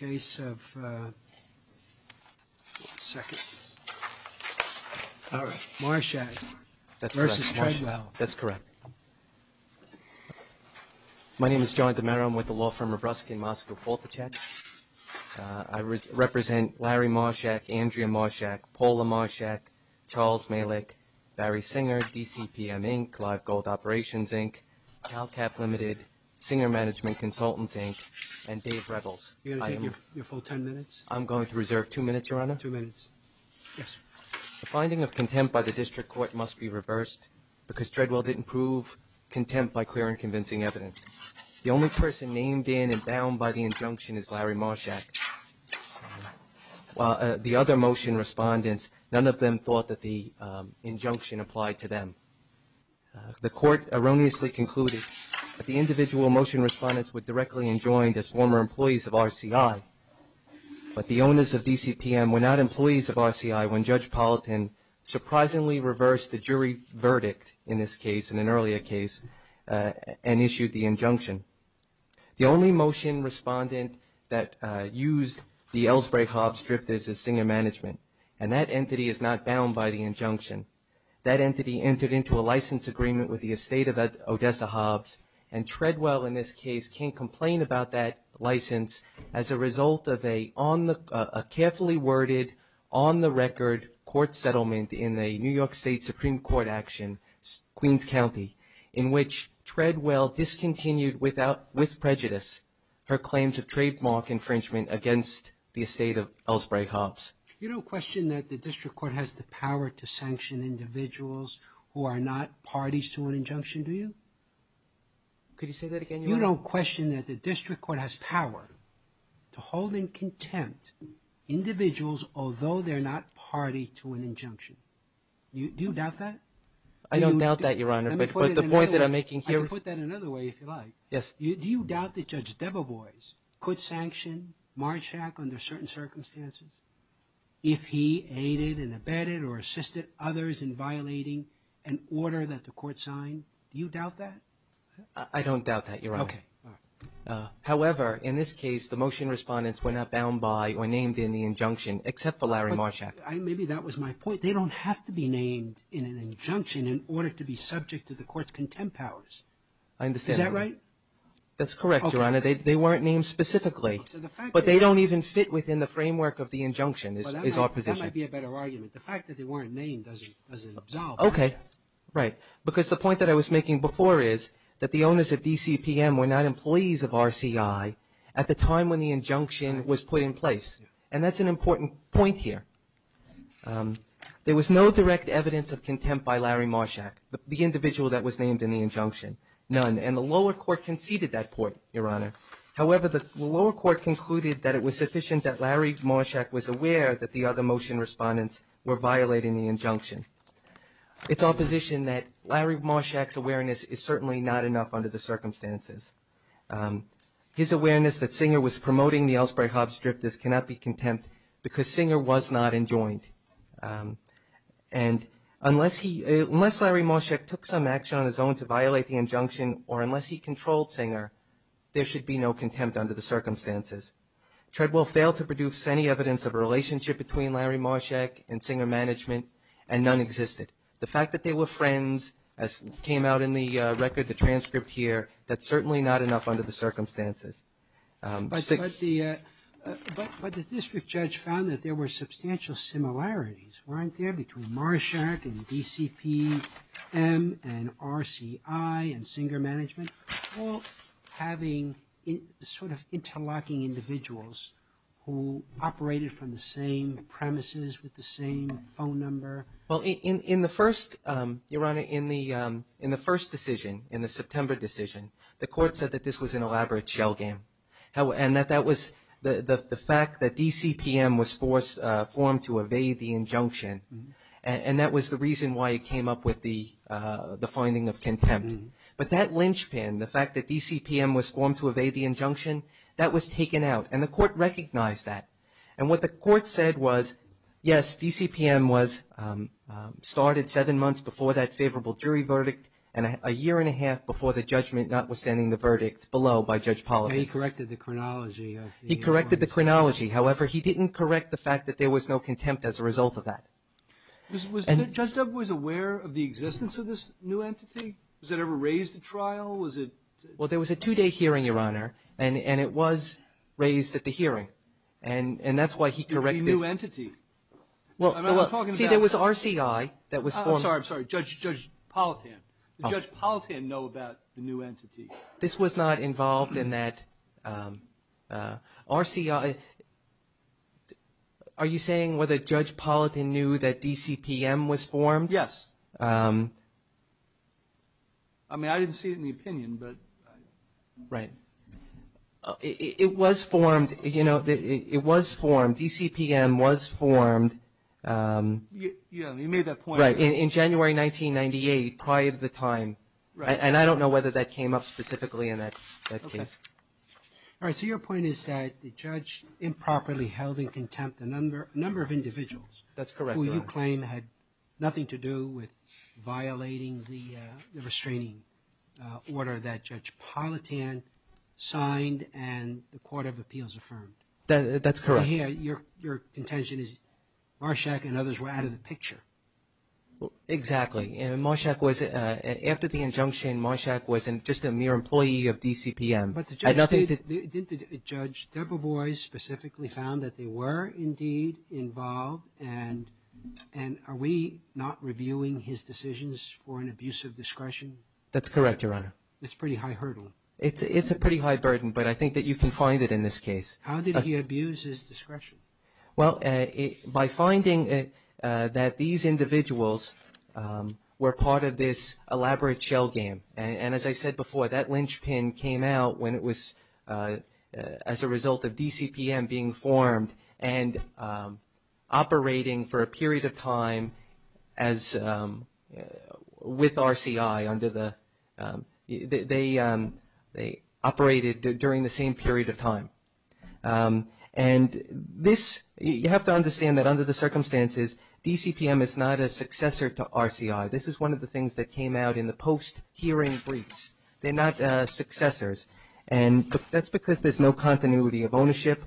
My name is John DiMera. I'm with the law firm of Ruskin Moscow Forthachek. I represent Larry Marshak, Andrea Marshak, Paula Marshak, Charles Malik, Barry Singer, DCPM Inc., Live Gold Operations Inc., CalCap Ltd., Singer Management Consultants Inc., and Dave Rettles. I'm going to reserve two minutes, Your Honor. The finding of contempt by the district court must be reversed because Treadwell didn't prove contempt by clear and convincing evidence. The only person named in and bound by the injunction is Larry Marshak. The other motion respondents, none of them thought that the injunction applied to them. The court erroneously concluded that the individual motion respondents were directly enjoined as former employees of RCI, but the owners of DCPM were not employees of RCI when Judge Palatin surprisingly reversed the jury verdict in this case, in an earlier case, and issued the injunction. The only motion respondent that used the Ellsbury-Hobbs drifters is Singer Management, and that entity is not bound by the injunction. That entity entered into a license agreement with the estate of Odessa-Hobbs, and Treadwell, in this case, can't complain about that license as a result of a carefully worded, on-the-record court settlement in the New York State Supreme Court action, Queens County, in which Treadwell discontinued with prejudice her claims of trademark infringement against the estate of Ellsbury-Hobbs. You don't question that the district court has the power to sanction individuals who are not parties to an injunction, do you? Could you say that again, Your Honor? You don't question that the district court has power to hold in contempt individuals although they're not party to an injunction. Do you doubt that? I don't doubt that, Your Honor, but the point that I'm making here... I can put that another way, if you like. Yes. Do you doubt that Judge Debeboise could sanction Marshack under certain circumstances if he aided and abetted or assisted others in violating an order that the court signed? Do you doubt that? I don't doubt that, Your Honor. Okay. However, in this case, the motion respondents were not bound by or named in the injunction, except for Larry Marshack. Maybe that was my point. They don't have to be named in an injunction in order to be subject to the court's contempt powers. I understand. Is that right? That's correct, Your Honor. They weren't named specifically, but they don't even fit within the framework of the injunction is our position. That might be a better argument. The fact that they weren't named doesn't absolve Marshack. Okay. Right. Because the point that I was making before is that the owners of DCPM were not employees of RCI at the time when the injunction was put in place, and that's an important point here. There was no direct evidence of contempt by Larry Marshack, the individual that was named in the injunction. None. And the lower court conceded that point, Your Honor. However, the lower court concluded that it was sufficient that Larry Marshack was aware that the other motion respondents were violating the injunction. It's our position that Larry Marshack's awareness is certainly not enough under the circumstances. His awareness that Singer was promoting the Elspray-Hobbs Strip, this cannot be contempt because Singer was not enjoined. And unless Larry Marshack took some action on his own to violate the injunction or unless he controlled Singer, there should be no contempt under the circumstances. Treadwell failed to produce any evidence of a relationship between Larry Marshack and Singer management, and none existed. The fact that they were friends, as came out in the record, the transcript here, that's certainly not enough under the circumstances. But the district judge found that there were substantial similarities, weren't there, between Marshack and DCPM and RCI and Singer management? Well, having sort of interlocking individuals who operated from the same premises with the same phone number? Well, Your Honor, in the first decision, in the September decision, the court said that this was an elaborate shell game. And that that was the fact that DCPM was formed to evade the injunction, and that was the reason why it came up with the finding of contempt. But that linchpin, the fact that DCPM was formed to evade the injunction, that was taken out. And the court recognized that. And what the court said was, yes, DCPM was started seven months before that favorable jury verdict, and a year and a half before the judgment, notwithstanding the verdict, below by Judge Pollard. He corrected the chronology of the... He corrected the chronology. However, he didn't correct the fact that there was no contempt as a result of that. Was Judge Dugwood aware of the existence of this new entity? Was it ever raised at trial? Well, there was a two-day hearing, Your Honor, and it was raised at the hearing. And that's why he corrected... The new entity? Well, see, there was RCI that was formed... I'm sorry, Judge Pollatan. Did Judge Pollatan know about the new entity? This was not involved in that. RCI... Are you saying whether Judge Pollatan knew that DCPM was formed? Yes. I mean, I didn't see it in the opinion, but... Right. It was formed, you know, it was formed. DCPM was formed... Yeah, you made that point. In January 1998, prior to the time. And I don't know whether that came up specifically in that case. All right, so your point is that the judge improperly held in contempt a number of individuals... That's correct, Your Honor. And that claim had nothing to do with violating the restraining order that Judge Pollatan signed and the Court of Appeals affirmed. That's correct. So here, your contention is Marshak and others were out of the picture. Exactly. And Marshak was... After the injunction, Marshak was just a mere employee of DCPM. But the judge... Had nothing to... And are we not reviewing his decisions for an abuse of discretion? That's correct, Your Honor. It's a pretty high hurdle. It's a pretty high burden, but I think that you can find it in this case. How did he abuse his discretion? Well, by finding that these individuals were part of this elaborate shell game. And as I said before, that linchpin came out when it was as a result of DCPM being formed and operating for a period of time with RCI under the... They operated during the same period of time. And this... You have to understand that under the circumstances, DCPM is not a successor to RCI. This is one of the things that came out in the post-hearing briefs. They're not successors. And that's because there's no continuity of ownership.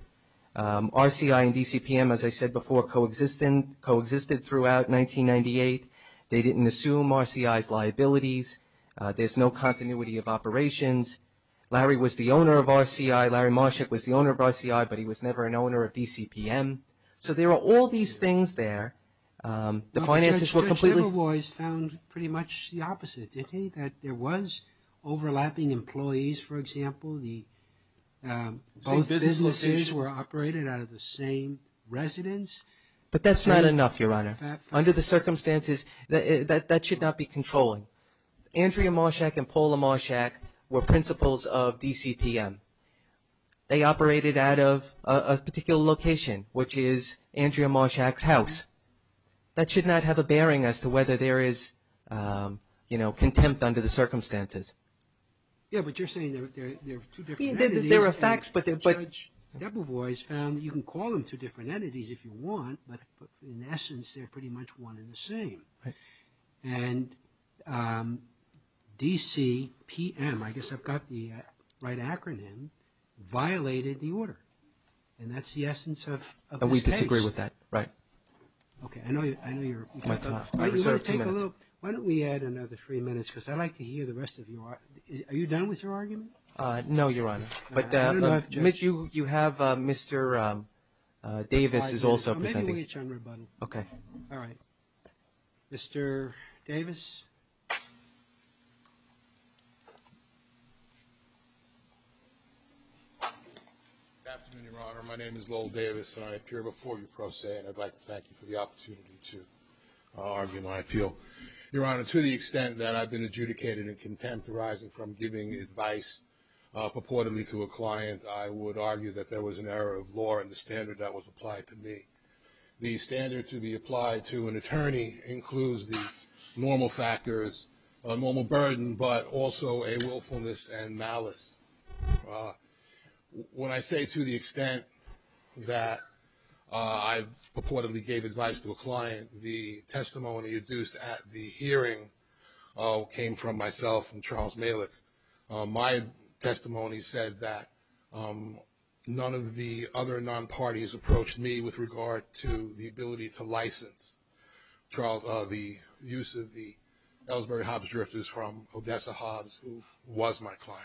RCI and DCPM, as I said before, coexisted throughout 1998. They didn't assume RCI's liabilities. There's no continuity of operations. Larry was the owner of RCI. Larry Marshak was the owner of RCI, but he was never an owner of DCPM. So there are all these things there. The finances were completely... But the judge found pretty much the opposite, didn't he? That there was overlapping employees, for example. Both businesses were operated out of the same residence. But that's not enough, Your Honor. Under the circumstances, that should not be controlling. Andrea Marshak and Paula Marshak were principals of DCPM. They operated out of a particular location, which is Andrea Marshak's house. That should not have a bearing as to whether there is contempt under the circumstances. Yeah, but you're saying there are two different entities. There are facts, but... Judge Debovois found that you can call them two different entities if you want, but in essence, they're pretty much one and the same. And DCPM, I guess I've got the right acronym, violated the order. And that's the essence of this case. And we disagree with that, right. Okay, I know you're... I reserve two minutes. Why don't we add another three minutes, because I'd like to hear the rest of you. Are you done with your argument? No, Your Honor. No, no, no, I've just... But you have Mr. Davis is also presenting. I'm making a wish on rebuttal. Okay. All right. Mr. Davis. Good afternoon, Your Honor. My name is Lowell Davis, and I appear before you pro se, and I'd like to thank you for the opportunity to argue my appeal. Your Honor, to the extent that I've been adjudicated in contempt arising from giving advice purportedly to a client, I would argue that there was an error of law in the standard that was applied to me. The standard to be applied to an attorney includes the normal factors, a normal burden, but also a willfulness and malice. When I say to the extent that I purportedly gave advice to a client, it came from myself and Charles Malick. My testimony said that none of the other non-parties approached me with regard to the ability to license the use of the Ellsbury-Hobbs drifters from Odessa-Hobbs, who was my client.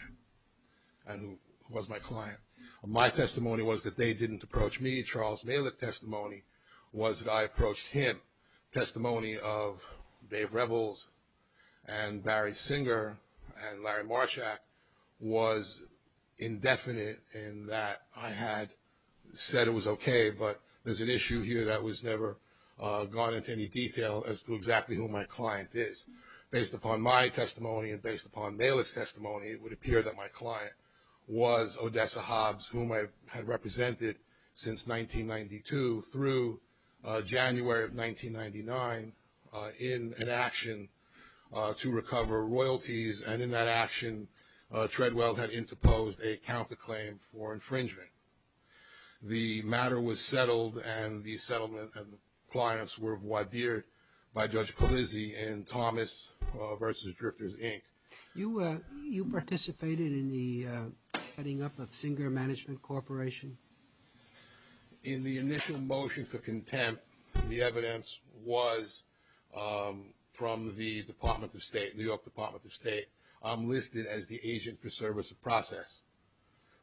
My testimony was that they didn't approach me. Charles Malick's testimony was that I approached him. Testimony of Dave Rebels and Barry Singer and Larry Marshak was indefinite in that I had said it was okay, but there's an issue here that was never gone into any detail as to exactly who my client is. Based upon my testimony and based upon Malick's testimony, it would appear that my client was Odessa-Hobbs, whom I had represented since 1992 through January of 1999 in an action to recover royalties and in that action, Treadwell had interposed a counterclaim for infringement. The matter was settled and the settlement and the clients were voir dire by Judge Colizzi and Thomas versus Drifters, Inc. You participated in the setting up of Singer Management Corporation? In the initial motion for contempt, the evidence was from the Department of State, New York Department of State. I'm listed as the agent for service of process.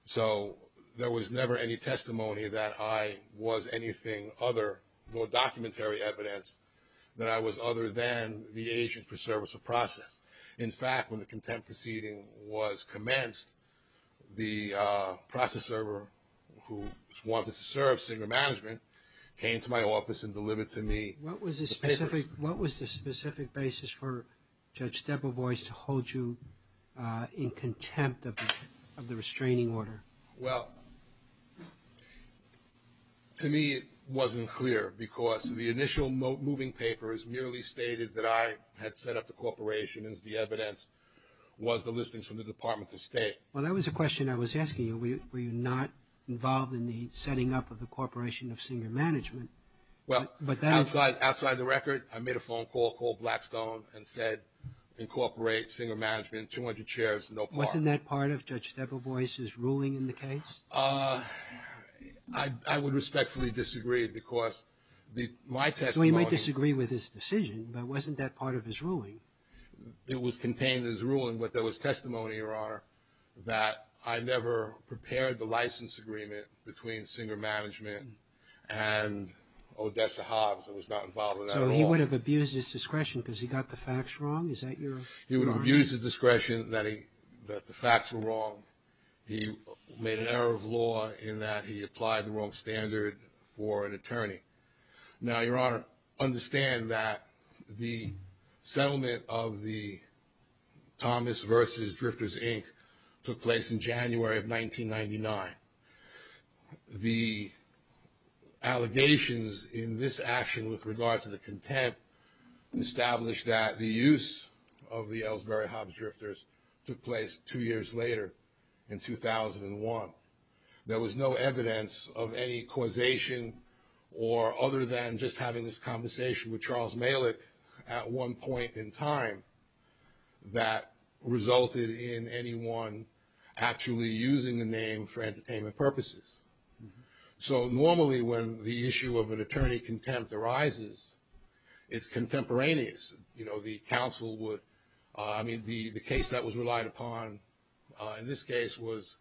So there was never any testimony that I was anything other, nor documentary evidence, that I was other than the agent for service of process. In fact, when the contempt proceeding was commenced, the process server who wanted to serve Singer Management came to my office and delivered to me the papers. What was the specific basis for Judge Debevoise to hold you in contempt of the restraining order? Well, to me, it wasn't clear because the initial moving papers merely stated that I had set up the corporation and the evidence was the listings from the Department of State. Well, that was a question I was asking you. Were you not involved in the setting up of the corporation of Singer Management? Well, outside the record, I made a phone call called Blackstone and said, incorporate Singer Management, 200 chairs, no part. Wasn't that part of Judge Debevoise's ruling in the case? I would respectfully disagree because my testimony... Well, you might disagree with his decision, but wasn't that part of his ruling? It was contained in his ruling, but there was testimony, Your Honor, that I never prepared the license agreement between Singer Management and Odessa Hobbs. I was not involved in that at all. So he would have abused his discretion because he got the facts wrong? Is that your... He would have abused his discretion that the facts were wrong. He made an error of law in that he applied the wrong standard for an attorney. Now, Your Honor, understand that the settlement of the Thomas versus Drifters, Inc. took place in January of 1999. The allegations in this action with regard to the contempt established that the use of the Ellsbury Hobbs Drifters took place two years later in 2001. There was no evidence of any causation or other than just having this conversation with Charles Malick at one point in time that resulted in anyone actually using the name for entertainment purposes. So normally when the issue of an attorney contempt arises, it's contemporaneous. You know, the counsel would... I mean, the case that was relied upon in this case was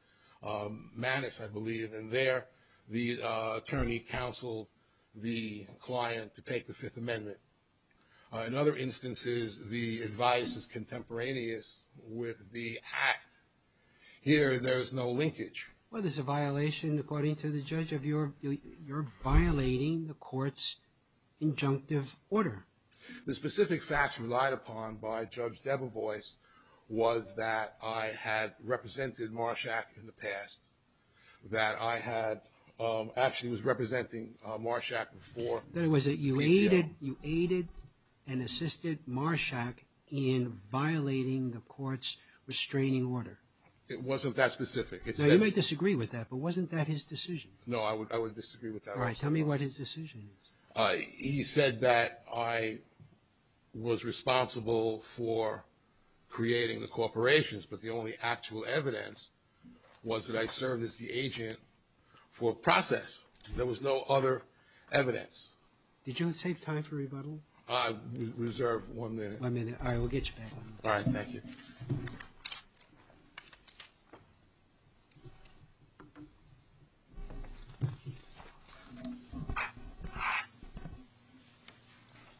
Manus, I believe, and there the attorney counseled the client to take the Fifth Amendment. In other instances, the advice is contemporaneous with the act. Here, there's no linkage. Well, there's a violation according to the judge of your... you're violating the court's injunctive order. The specific facts relied upon by Judge Debevoise was that I had represented Marshack in the past, that I had... actually was representing Marshack before... Then it was that you aided and assisted Marshack in violating the court's restraining order. It wasn't that specific. Now, you may disagree with that, but wasn't that his decision? No, I would disagree with that. All right. Tell me what his decision is. He said that I was responsible for creating the corporations, but the only actual evidence was that I served as the agent for process. There was no other evidence. Did you save time for rebuttal? I reserved one minute. One minute. All right. We'll get you back. All right. Thank you.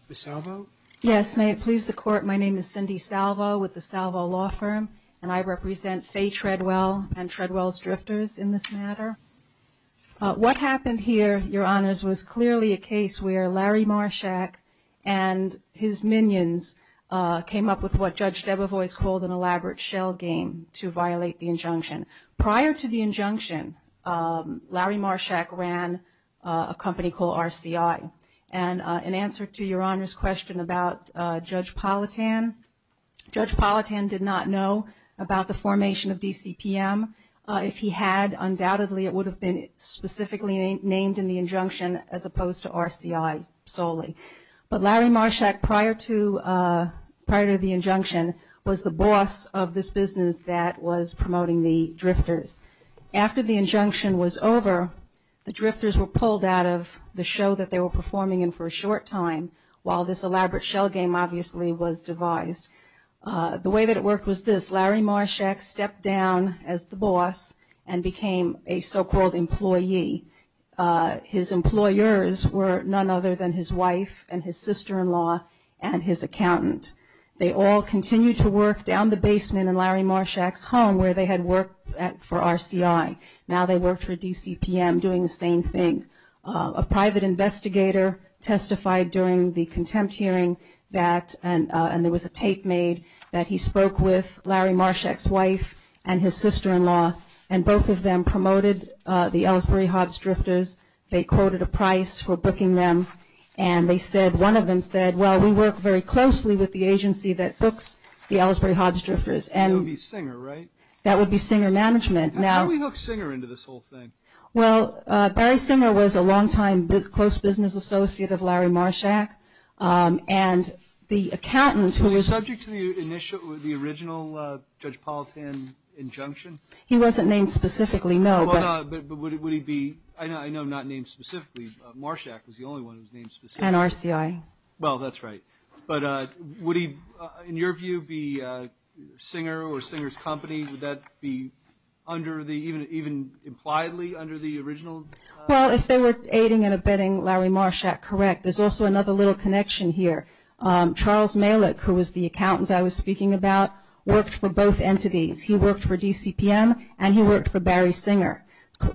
Ms. Salvo? Yes. May it please the court, my name is Cindy Salvo with the Salvo Law Firm, and I represent Fay Treadwell and Treadwell's Drifters in this matter. What happened here, Your Honors, was clearly a case where Larry Marshack and his minions came up with what Judge Debevoise called an elaborate shell game to violate the injunction. Prior to the injunction, Larry Marshack ran a company called RCI. And in answer to Your Honors' question about Judge Politan, Judge Politan did not know about the formation of DCPM. If he had, undoubtedly it would have been specifically named in the injunction as opposed to RCI solely. But Larry Marshack, prior to the injunction, was the boss of this business that was promoting the Drifters. After the injunction was over, the Drifters were pulled out of the show that they were performing in for a short time while this elaborate shell game obviously was devised. The way that it worked was this. Larry Marshack stepped down as the boss and became a so-called employee. His employers were none other than his wife and his sister-in-law and his accountant. They all continued to work down the basement in Larry Marshack's home where they had worked for RCI. Now they worked for DCPM doing the same thing. A private investigator testified during the contempt hearing that, and there was a tape made, that he spoke with Larry Marshack's wife and his sister-in-law and both of them were the Ellsbury-Hobbs Drifters. They quoted a price for booking them. And they said, one of them said, well, we work very closely with the agency that books the Ellsbury-Hobbs Drifters. That would be Singer, right? That would be Singer Management. How did we hook Singer into this whole thing? Well, Barry Singer was a long-time close business associate of Larry Marshack. And the accountant who was... Was he subject to the original Judge Palatine injunction? He wasn't named specifically, no. But would he be... I know not named specifically, but Marshack was the only one who was named specifically. And RCI. Well, that's right. But would he, in your view, be Singer or Singer's company? Would that be under the... Even impliedly under the original... Well, if they were aiding and abetting Larry Marshack, correct. There's also another little connection here. Charles Malick, who was the accountant I was speaking about, worked for both entities. He worked for DCPM, and he worked for Barry Singer.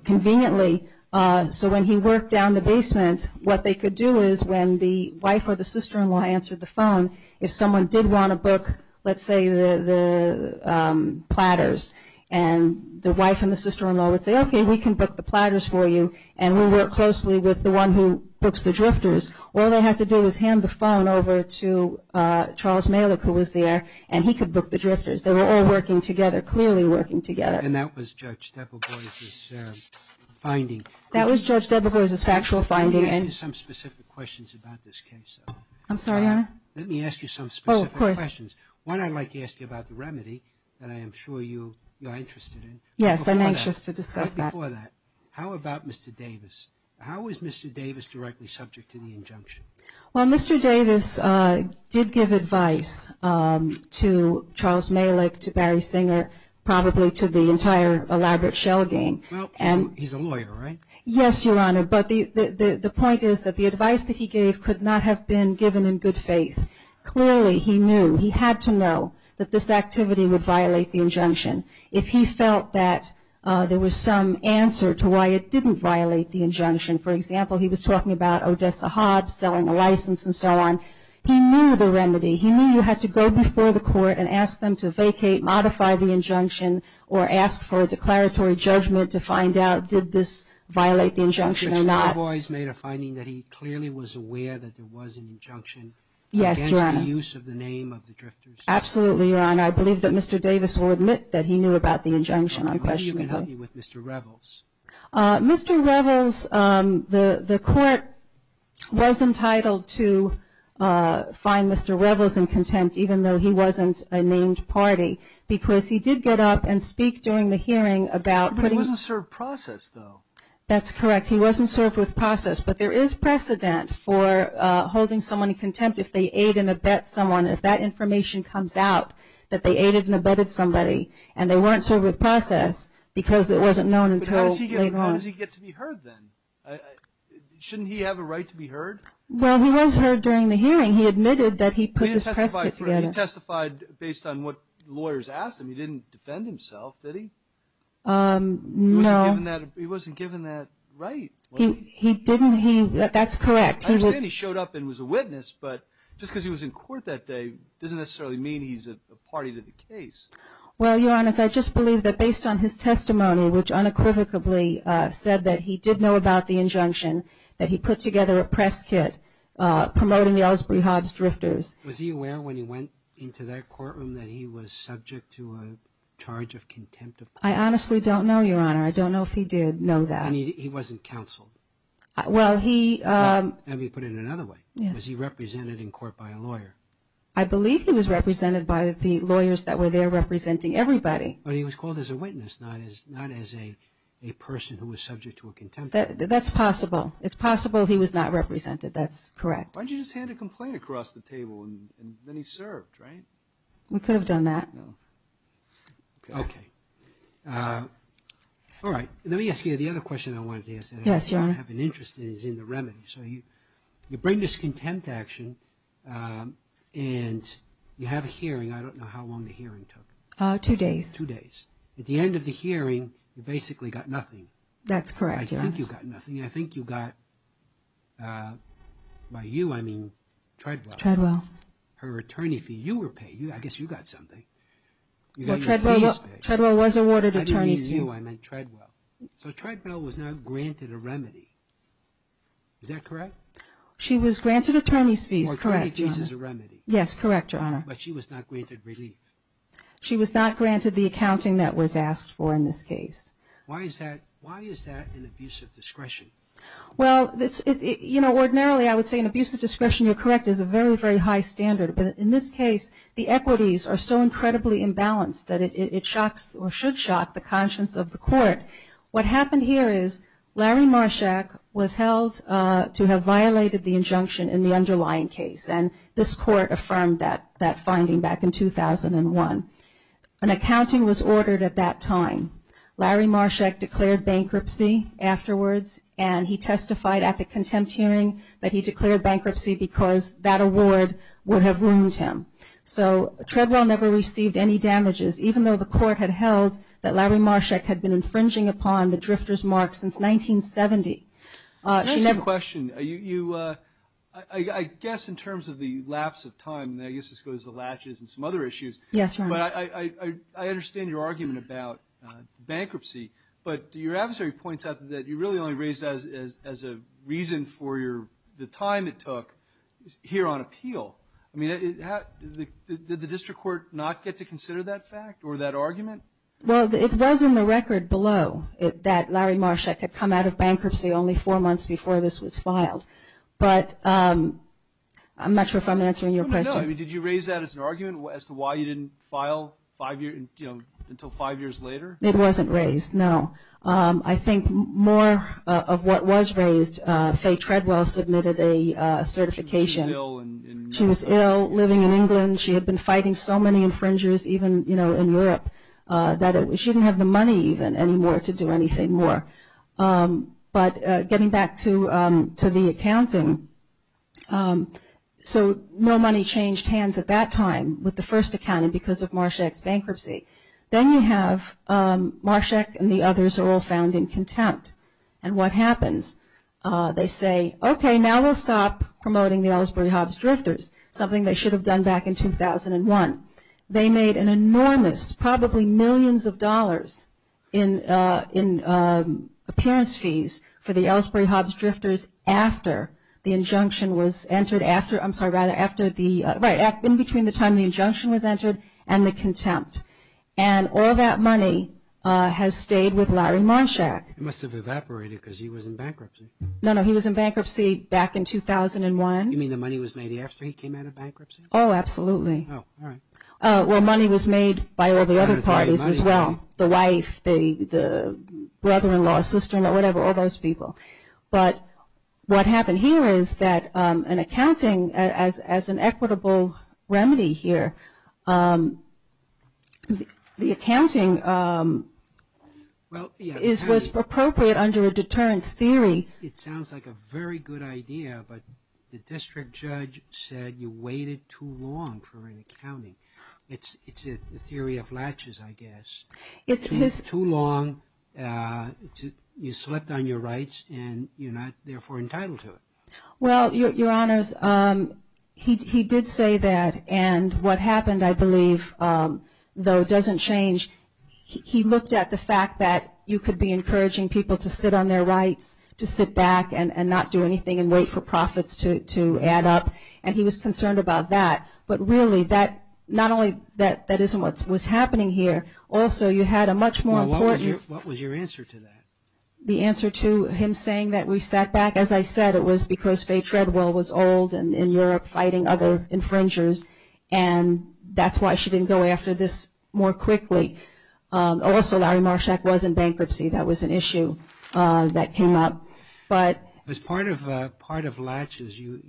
Conveniently, so when he worked down the basement, what they could do is when the wife or the sister-in-law answered the phone, if someone did want to book, let's say, the platters, and the wife and the sister-in-law would say, okay, we can book the platters for you, and we work closely with the one who books the drifters, all they have to do is hand the phone over to Charles Malick, who was there, and he could book the drifters. They were all working together, clearly working together. And that was Judge Debegoise's finding. That was Judge Debegoise's factual finding. Let me ask you some specific questions about this case, though. I'm sorry, Your Honor? Let me ask you some specific questions. One, I'd like to ask you about the remedy that I am sure you are interested in. Yes, I'm anxious to discuss that. Right before that, how about Mr. Davis? How was Mr. Davis directly subject to the injunction? Well, Mr. Davis did give advice to Charles Malick, to Barry Singer, probably to the entire elaborate shell gang. Well, he's a lawyer, right? Yes, Your Honor, but the point is that the advice that he gave could not have been given in good faith. Clearly, he knew, he had to know, that this activity would violate the injunction. If he felt that there was some answer to why it didn't violate the injunction, for example, he was talking about Odessa Hobbs selling a license and so on, he knew the remedy. He knew you had to go before the court and ask them to vacate, modify the injunction, or ask for a declaratory judgment to find out did this violate the injunction or not. Judge Debegoise made a finding that he clearly was aware that there was an injunction against the use of the name of the Drifters. Absolutely, Your Honor. I believe that Mr. Davis will admit that he knew about the injunction. I'm questioning that. How do you get help with Mr. Revels? Mr. Revels, the court was entitled to find Mr. Revels in contempt even though he wasn't a named party because he did get up and speak during the hearing about putting He wasn't served process, though. That's correct. He wasn't served with process, but there is precedent for holding someone in contempt if they aid and abet someone. If that information comes out that they aided and abetted somebody and they weren't served with process because it wasn't known until later on. How does he get to be heard, then? Shouldn't he have a right to be heard? Well, he was heard during the hearing. He admitted that he put this precedent together. He testified based on what lawyers asked him. He didn't defend himself, did he? No. He wasn't given that right. He didn't. That's correct. I understand he showed up and was a witness, but just because he was in court that day doesn't necessarily mean he's a party to the case. Well, Your Honor, I just believe that based on his testimony which unequivocally said that he did know about the injunction that he put together a press kit promoting the Ellsbury-Hobbs drifters. Was he aware when he went into that courtroom that he was subject to a charge of contempt? I honestly don't know, Your Honor. I don't know if he did know that. And he wasn't counseled? Let me put it another way. Was he represented in court by a lawyer? I believe he was represented by the lawyers that were there representing everybody. But he was called as a witness, not as a person who was subject to a contempt action. That's possible. It's possible he was not represented. That's correct. Why don't you just hand a complaint across the table and then he's served, right? We could have done that. Okay. All right. Let me ask you the other question I wanted to ask. Yes, Your Honor. I have an interest in is in the remedy. So you bring this contempt action and you have a hearing. I don't know how long the hearing took. Two days. Two days. At the end of the hearing, you basically got nothing. That's correct, Your Honor. I think you got nothing. I think you got, by you, I mean Treadwell. Treadwell. Her attorney fee. You were paid. I guess you got something. You got your fees paid. Well, Treadwell was awarded attorney's fee. By you, I mean Treadwell. So Treadwell was not granted a remedy. Is that correct? She was granted attorney's fees. Correct, Your Honor. Yes, correct, Your Honor. But she was not granted relief. She was not granted the accounting that was asked for in this case. Why is that? Why is that an abuse of discretion? Well, you know, ordinarily, I would say an abuse of discretion, you're correct, is a very, very high standard. But in this case, the equities are so incredibly imbalanced that it shocks, or should shock, the conscience of the court. What happened here is Larry Marshak was held to have violated the injunction in the underlying case. And this court affirmed that, that finding back in 2001. An accounting was ordered at that time. Larry Marshak declared bankruptcy afterwards. And he testified at the contempt hearing that he declared bankruptcy because that award would have ruined him. So Treadwell never received any damages, even though the court had held that Larry Marshak had been infringed on by the court. He had been charging upon the drifter's mark since 1970. Can I ask you a question? I guess in terms of the lapse of time, and I guess this goes to latches and some other issues. Yes, Your Honor. But I understand your argument about bankruptcy. But your adversary points out that you really only raised that as a reason for the time it took here on appeal. Did the district court not get to consider that fact or that argument? Well, it was in the record below that Larry Marshak had come out of bankruptcy only four months before this was filed. But I'm not sure if I'm answering your question. Did you raise that as an argument as to why you didn't file until five years later? It wasn't raised, no. I think more of what was raised, Faye Treadwell submitted a certification. She was ill, living in England. She had been fighting so many infringers even in Europe that she didn't have the money even anymore to do anything more. But getting back to the accounting, so no money changed hands at that time with the first accounting because of Marshak's bankruptcy. Then you have Marshak and the others are all found in contempt. And what happens? They say, okay, now we'll stop promoting the Ellsbury-Hobbs Drifters, something they should have done back in 2001. They made an enormous, probably millions of dollars in appearance fees for the Ellsbury-Hobbs Drifters after the injunction was entered, I'm sorry, in between the time the injunction was entered and the contempt. And all that money has stayed with Larry Marshak. It must have evaporated because he was in bankruptcy. No, no, he was in bankruptcy back in 2001. You mean the money was made after he came out of bankruptcy? Oh, absolutely. Oh, alright. Well, money was made by all the other parties as well. The wife, the brother-in-law, sister-in-law, whatever, all those people. But what happened here is that an accounting, as an equitable remedy here, the accounting was appropriate under a deterrence theory. It sounds like a very good idea but the district judge said you waited too long for an accounting. It's a theory of latches, I guess. Too long, you slept on your rights and you're not, therefore, entitled to it. Well, your honors, he did say that and what happened, I believe, though, doesn't change. He looked at the fact that you could be encouraging people to sit on their rights, to sit back and not do anything and wait for profits to add up and he was concerned about that. But really, not only that isn't what was happening here, also you had a much more important... What was your answer to that? The answer to him saying that we sat back, as I said, it was because Faye Treadwell was old and in Europe fighting other infringers and that's why she didn't go after this more quickly. Also Larry Marshak was in bankruptcy. That was an issue that came up. As part of latches, you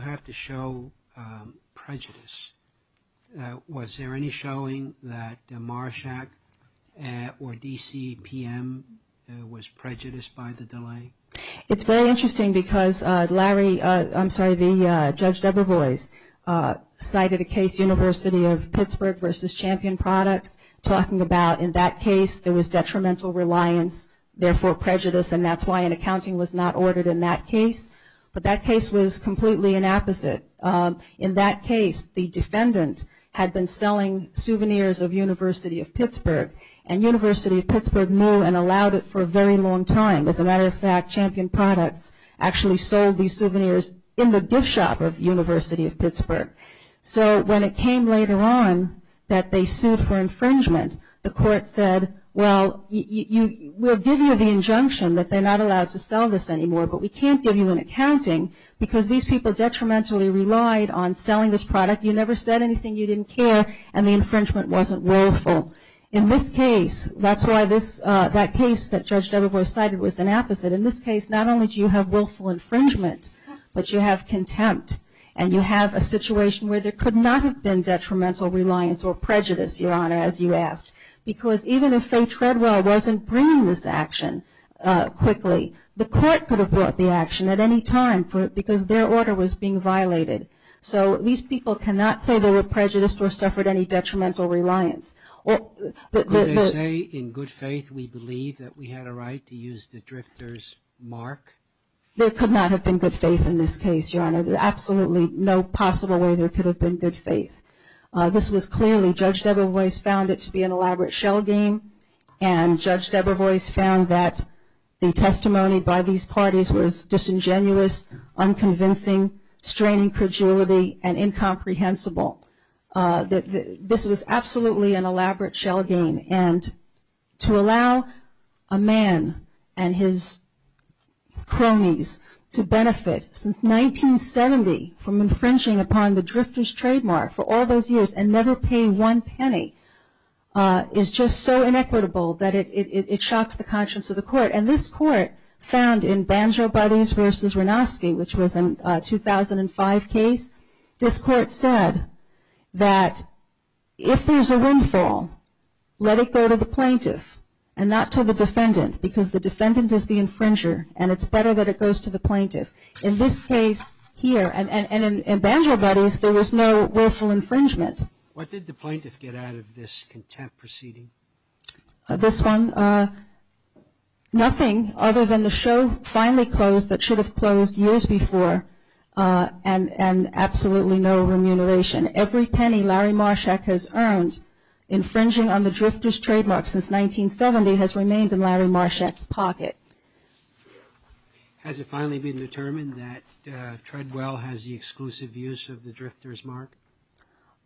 have to show prejudice. Was there any showing that Marshak or D.C. PM was prejudiced by the delay? It's very interesting because Larry, I'm sorry, Judge Debra Boyce cited a case, University of Pittsburgh versus Champion Products talking about in that case there was detrimental reliance, therefore prejudice and that's why an accounting was not ordered in that case. But that case was completely an opposite. In that case, the defendant had been selling souvenirs of University of Pittsburgh and University of Pittsburgh knew and allowed it for a very long time. As a matter of fact, Champion Products actually sold these souvenirs in the gift shop of University of Pittsburgh. So when it came later on that they sued for infringement, the court said, well we'll give you the injunction that they're not allowed to sell this anymore but we can't give you an accounting because these people detrimentally relied on selling this product. You never said anything you didn't care and the infringement wasn't willful. In this case, that's why that case that Judge Debra Boyce cited was an opposite. In this case, not only do you have willful infringement but you have contempt and you have a situation where there was prejudice, Your Honor, as you asked. Because even if Faye Treadwell wasn't bringing this action quickly, the court could have brought the action at any time because their order was being violated. So these people cannot say they were prejudiced or suffered any detrimental reliance. Could they say in good faith we believe that we had a right to use the drifter's mark? There could not have been good faith in this case, Your Honor. Absolutely no possible way there could have been good faith. This was clearly, Judge Debra Boyce found it to be an elaborate shell game and Judge Debra Boyce found that the testimony by these parties was disingenuous, unconvincing, straining credulity, and incomprehensible. This was absolutely an elaborate shell game and to allow a man and his cronies to benefit since 1970 from infringing upon the drifter's trademark for all those years and never pay one penny is just so inequitable that it shocks the conscience of the court. And this court found in Banjo Buddies vs. Wronowski, which was a 2005 case, this court said that if there's a windfall let it go to the plaintiff and not to the defendant because the defendant is the infringer and it's better that it goes to the plaintiff. In this case here, and in Banjo Buddies there was no willful infringement. What did the plaintiff get out of this contempt proceeding? This one? Nothing other than the show finally closed that should have closed years before and absolutely no remuneration. Every penny Larry Marshak has earned infringing on the drifter's trademark since 1970 has remained in Larry Marshak's pocket. Has it finally been determined that Treadwell has the exclusive use of the drifter's mark?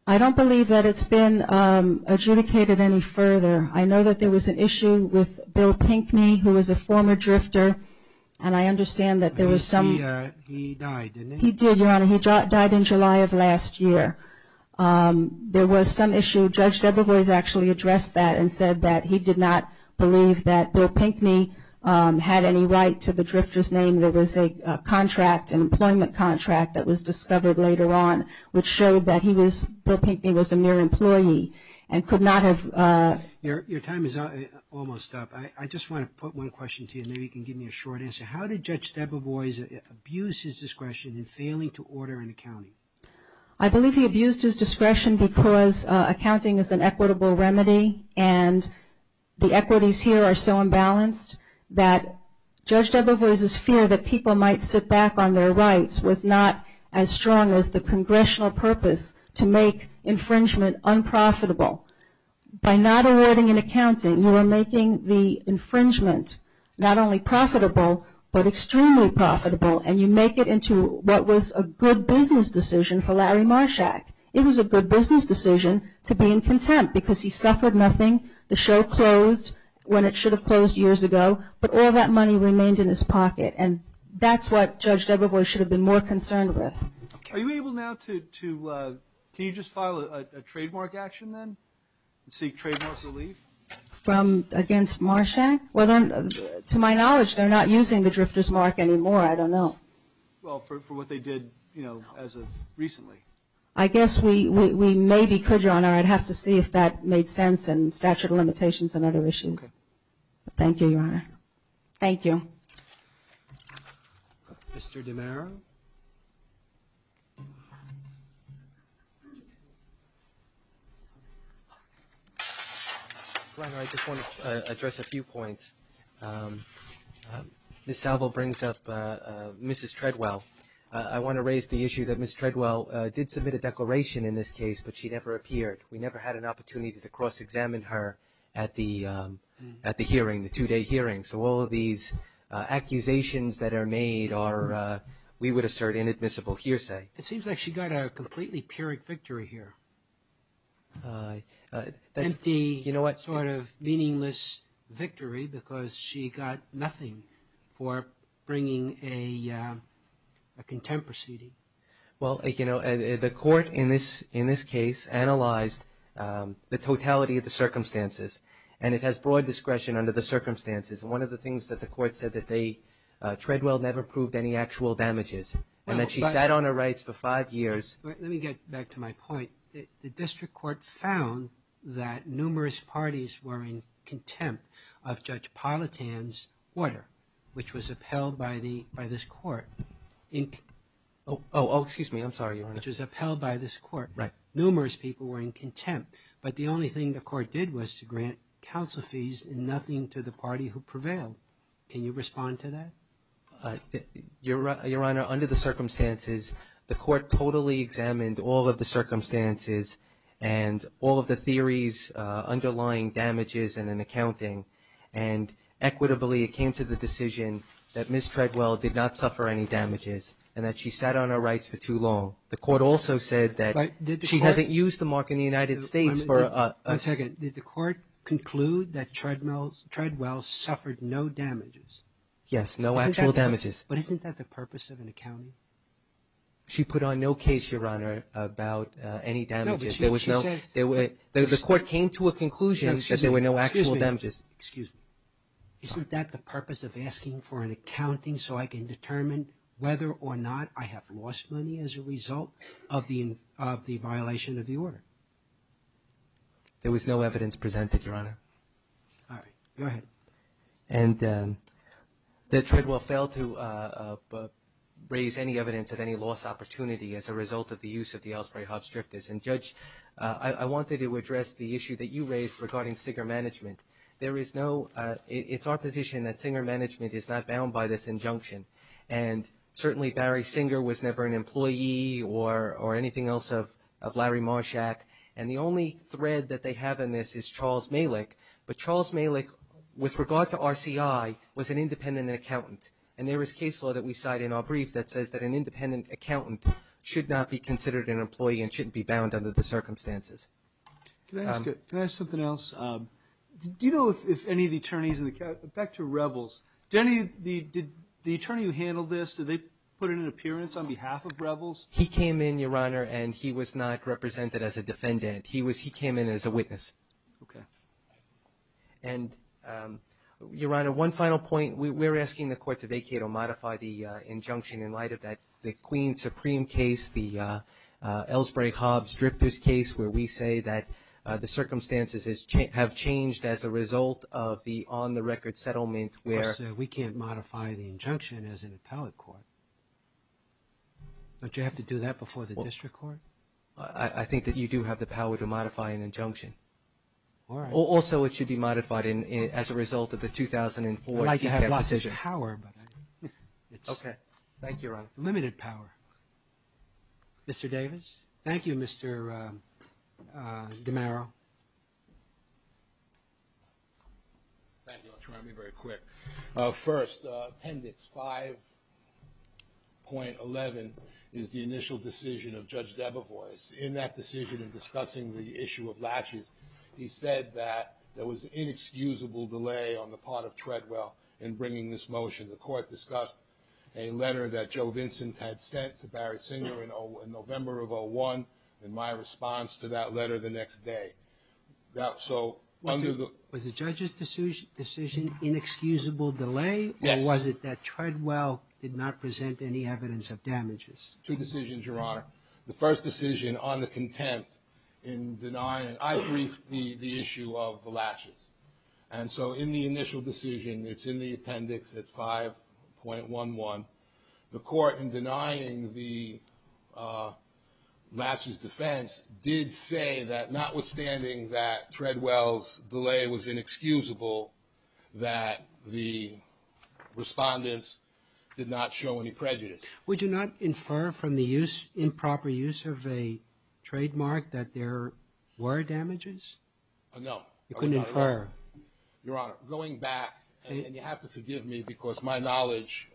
I don't believe that it's been adjudicated any further. I know that there was an issue with Bill Pinckney, who was a former drifter, and I understand that there was some... He died, didn't he? He did, Your Honor. He died in July of last year. There was some issue Judge Debrevoise actually addressed that and said that he did not believe that Bill Pinckney had any right to the drifter's name. There was a contract, an employment contract, that was discovered later on, which showed that Bill Pinckney was a mere employee and could not have... Your time is almost up. I just want to put one question to you and maybe you can give me a short answer. How did Judge Debrevoise abuse his discretion in failing to order an accounting? I believe he abused his discretion because accounting is an equitable remedy and the equities here are so fair. Judge Debrevoise's fear that people might sit back on their rights was not as strong as the Congressional purpose to make infringement unprofitable. By not awarding an accounting, you are making the infringement not only profitable, but extremely profitable, and you make it into what was a good business decision for Larry Marshak. It was a good business decision to be in contempt because he suffered nothing. The show closed when it should have closed years ago, but all that money remained in his pocket, and that's what Judge Debrevoise should have been more concerned with. Are you able now to... Can you just file a trademark action then and seek trademark relief? Against Marshak? To my knowledge, they're not using the drifter's mark anymore. I don't know. Well, for what they did recently. I guess we maybe could, Your Honor. I'd have to see if that made sense and statute of limitations and other issues. Thank you, Your Honor. Thank you. Mr. DiMera? Your Honor, I just want to address a few points. Ms. Salvo brings up Mrs. Treadwell. I want to raise the issue that Ms. Treadwell did submit a declaration in this case, but she never appeared. We never had an opportunity to cross-examine her at the hearing, the two-day hearing. So all of these accusations that are made are, we would assert, inadmissible hearsay. It seems like she got a completely pyrrhic victory here. Empty, sort of meaningless victory because she got nothing for bringing a contemporary. Well, you know, the court in this case analyzed the totality of the circumstances and it has broad discretion under the circumstances. One of the things that the court said that Treadwell never proved any actual damages and that she sat on her rights for five years. Let me get back to my point. The district court found that numerous parties were in contempt of Judge Politan's order, which was upheld by this court. Oh, excuse me. Which was upheld by this court. Numerous people were in contempt. But the only thing the court did was to grant counsel fees and nothing to the party who prevailed. Can you respond to that? Your Honor, under the circumstances the court totally examined all of the circumstances and all of the theories underlying damages and an accounting and equitably it came to the decision that Ms. Treadwell did not suffer any damages and that she sat on her rights for too long. The court also said that she hasn't used the mark in the United States for a... One second. Did the court conclude that Treadwell suffered no damages? Yes, no actual damages. But isn't that the purpose of an accounting? She put on no case, Your Honor, about any damages. There was no... The court came to a conclusion that there were no actual damages. Excuse me. Isn't that the purpose of asking for an accounting so I can determine whether or not I have lost money as a result of the violation of the order? There was no evidence presented, Your Honor. All right. Go ahead. And that Treadwell failed to raise any evidence of any loss opportunity as a result of the use of the Ellsbury-Hobbs drifters. And Judge, I wanted to address the issue that you raised regarding singer management. There is no... It's our position that it's a disjunction. And certainly Barry Singer was never an employee or anything else of Larry Marshak. And the only thread that they have in this is Charles Malick. But Charles Malick, with regard to RCI, was an independent accountant. And there is case law that we cite in our brief that says that an independent accountant should not be considered an employee and shouldn't be bound under the circumstances. Can I ask something else? Do you know if any of the attorneys in the... Back to the attorney who handled this, did they put in an appearance on behalf of Rebels? He came in, Your Honor, and he was not represented as a defendant. He was... He came in as a witness. Okay. And Your Honor, one final point. We're asking the court to vacate or modify the injunction in light of that Queen Supreme case, the Ellsbury-Hobbs drifters case where we say that the circumstances have changed as a result of the on-the-record settlement where... We can't modify the injunction as an appellate court. Don't you have to do that before the district court? I think that you do have the power to modify an injunction. All right. Also it should be modified as a result of the 2004... I'd like to have lots of power, but... Okay. Thank you, Your Honor. Limited power. Mr. Davis? Thank you, Mr. DeMaro. Thank you. I'll try to be very quick. First, Appendix 5.11 is the initial decision of Judge Debevoise. In that decision in discussing the issue of latches, he said that there was inexcusable delay on the part of Treadwell in bringing this motion. The court discussed a letter that Joe Vincent had sent to Barry Singer in November of 01, and my response to that letter the next day... Was the judge's decision inexcusable delay, or was it that Treadwell did not present any evidence of damages? Two decisions, Your Honor. The first decision on the contempt in denying... I briefed the issue of the latches. And so in the initial decision, it's in the appendix at 5.11, the court in denying the latches defense did say that notwithstanding that Treadwell's delay was inexcusable, that the respondents did not show any prejudice. Would you not infer from the improper use of a trademark that there were damages? No. You couldn't infer? Your Honor, going back, and you have to forgive me because my knowledge,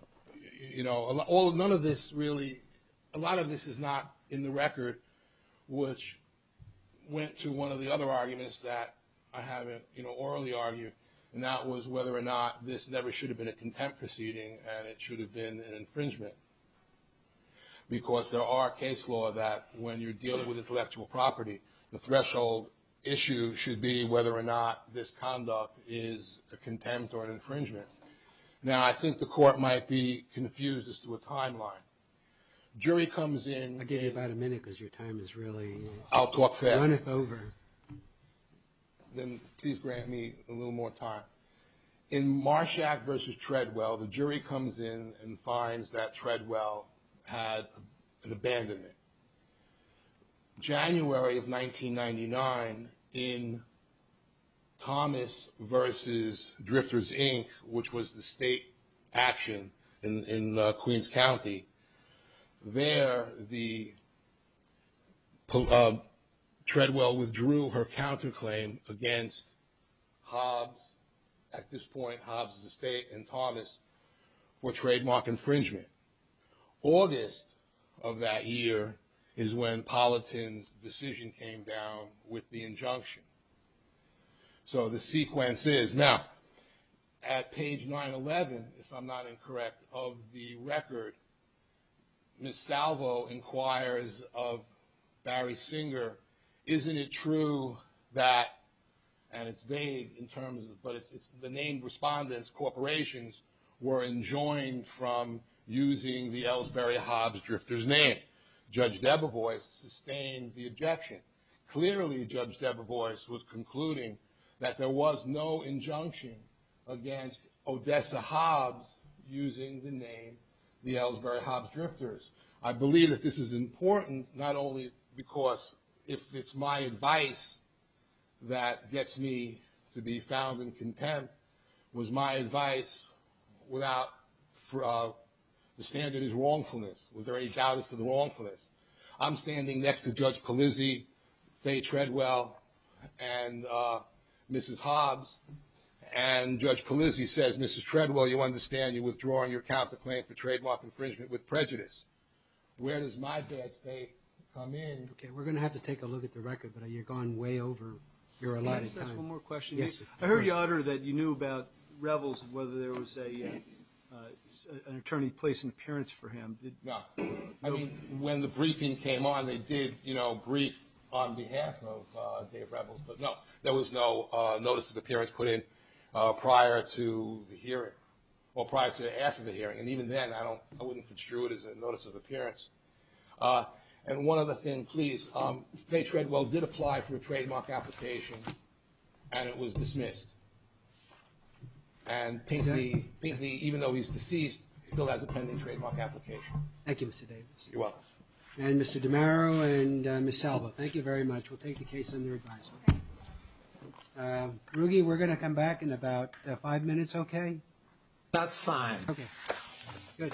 you know, none of this really, a lot of this is not in the record, which went to one of the other arguments that I haven't, you know, orally argued, and that was whether or not this never should have been a contempt proceeding and it should have been an infringement. Because there are case law that when you're dealing with intellectual property, the threshold issue should be whether or not this conduct is a contempt or an infringement. Now, I think the court might be confused as to a timeline. Jury comes in. I'll give you about a minute because your time is really running over. I'll talk fast. Then please grant me a little more time. In Marshack v. Treadwell, the jury comes in and finds that Treadwell had an abandonment. January of 1999, in Thomas v. Drifters, Inc., which was the state action in Queens County, there the Treadwell withdrew her counterclaim against Hobbs, at this point Hobbs' estate, and Thomas for trademark infringement. August of that year is when Polliton's decision came down with the injunction. So the sequence is, now, at the prospect of the record, Ms. Salvo inquires of Barry Singer, isn't it true that, and it's vague in terms of, but the named respondents, corporations, were enjoined from using the Ellsbury Hobbs Drifters name? Judge Debevoise sustained the objection. Clearly, Judge Debevoise was concluding that there was no injunction against Odessa Hobbs using the name, the Ellsbury Hobbs Drifters. I believe that this is important, not only because if it's my advice that gets me to be found in content, was my advice without the standard is wrongfulness. Was there any doubt as to the wrongfulness? I'm standing next to Judge Polizzi, Faye Treadwell, and Mrs. Hobbs, and Judge Polizzi says, Mrs. Treadwell, you understand you're withdrawing your counterclaim for trademark infringement with prejudice. Where does my bet, Faye, come in? We're going to have to take a look at the record, but you've gone way over your allotted time. I heard you utter that you knew about Revels, whether there was an attorney placing appearance for him. When the briefing came on, they did brief on behalf of Dave Revels, but no, there was no notice of appearance put in prior to the hearing, or prior to after the hearing. And even then, I wouldn't construe it as a notice of appearance. And one other thing, please. Faye Treadwell did apply for a trademark application, and it was dismissed. And Pinkney, even though he's deceased, still has a pending trademark application. Thank you, Mr. Davis. You're welcome. And Mr. DiMero and Ms. Selva, thank you very much. We'll take the case under advisement. Ruggie, we're going to come back in about five minutes, okay? That's fine. Okay, good. Thank you.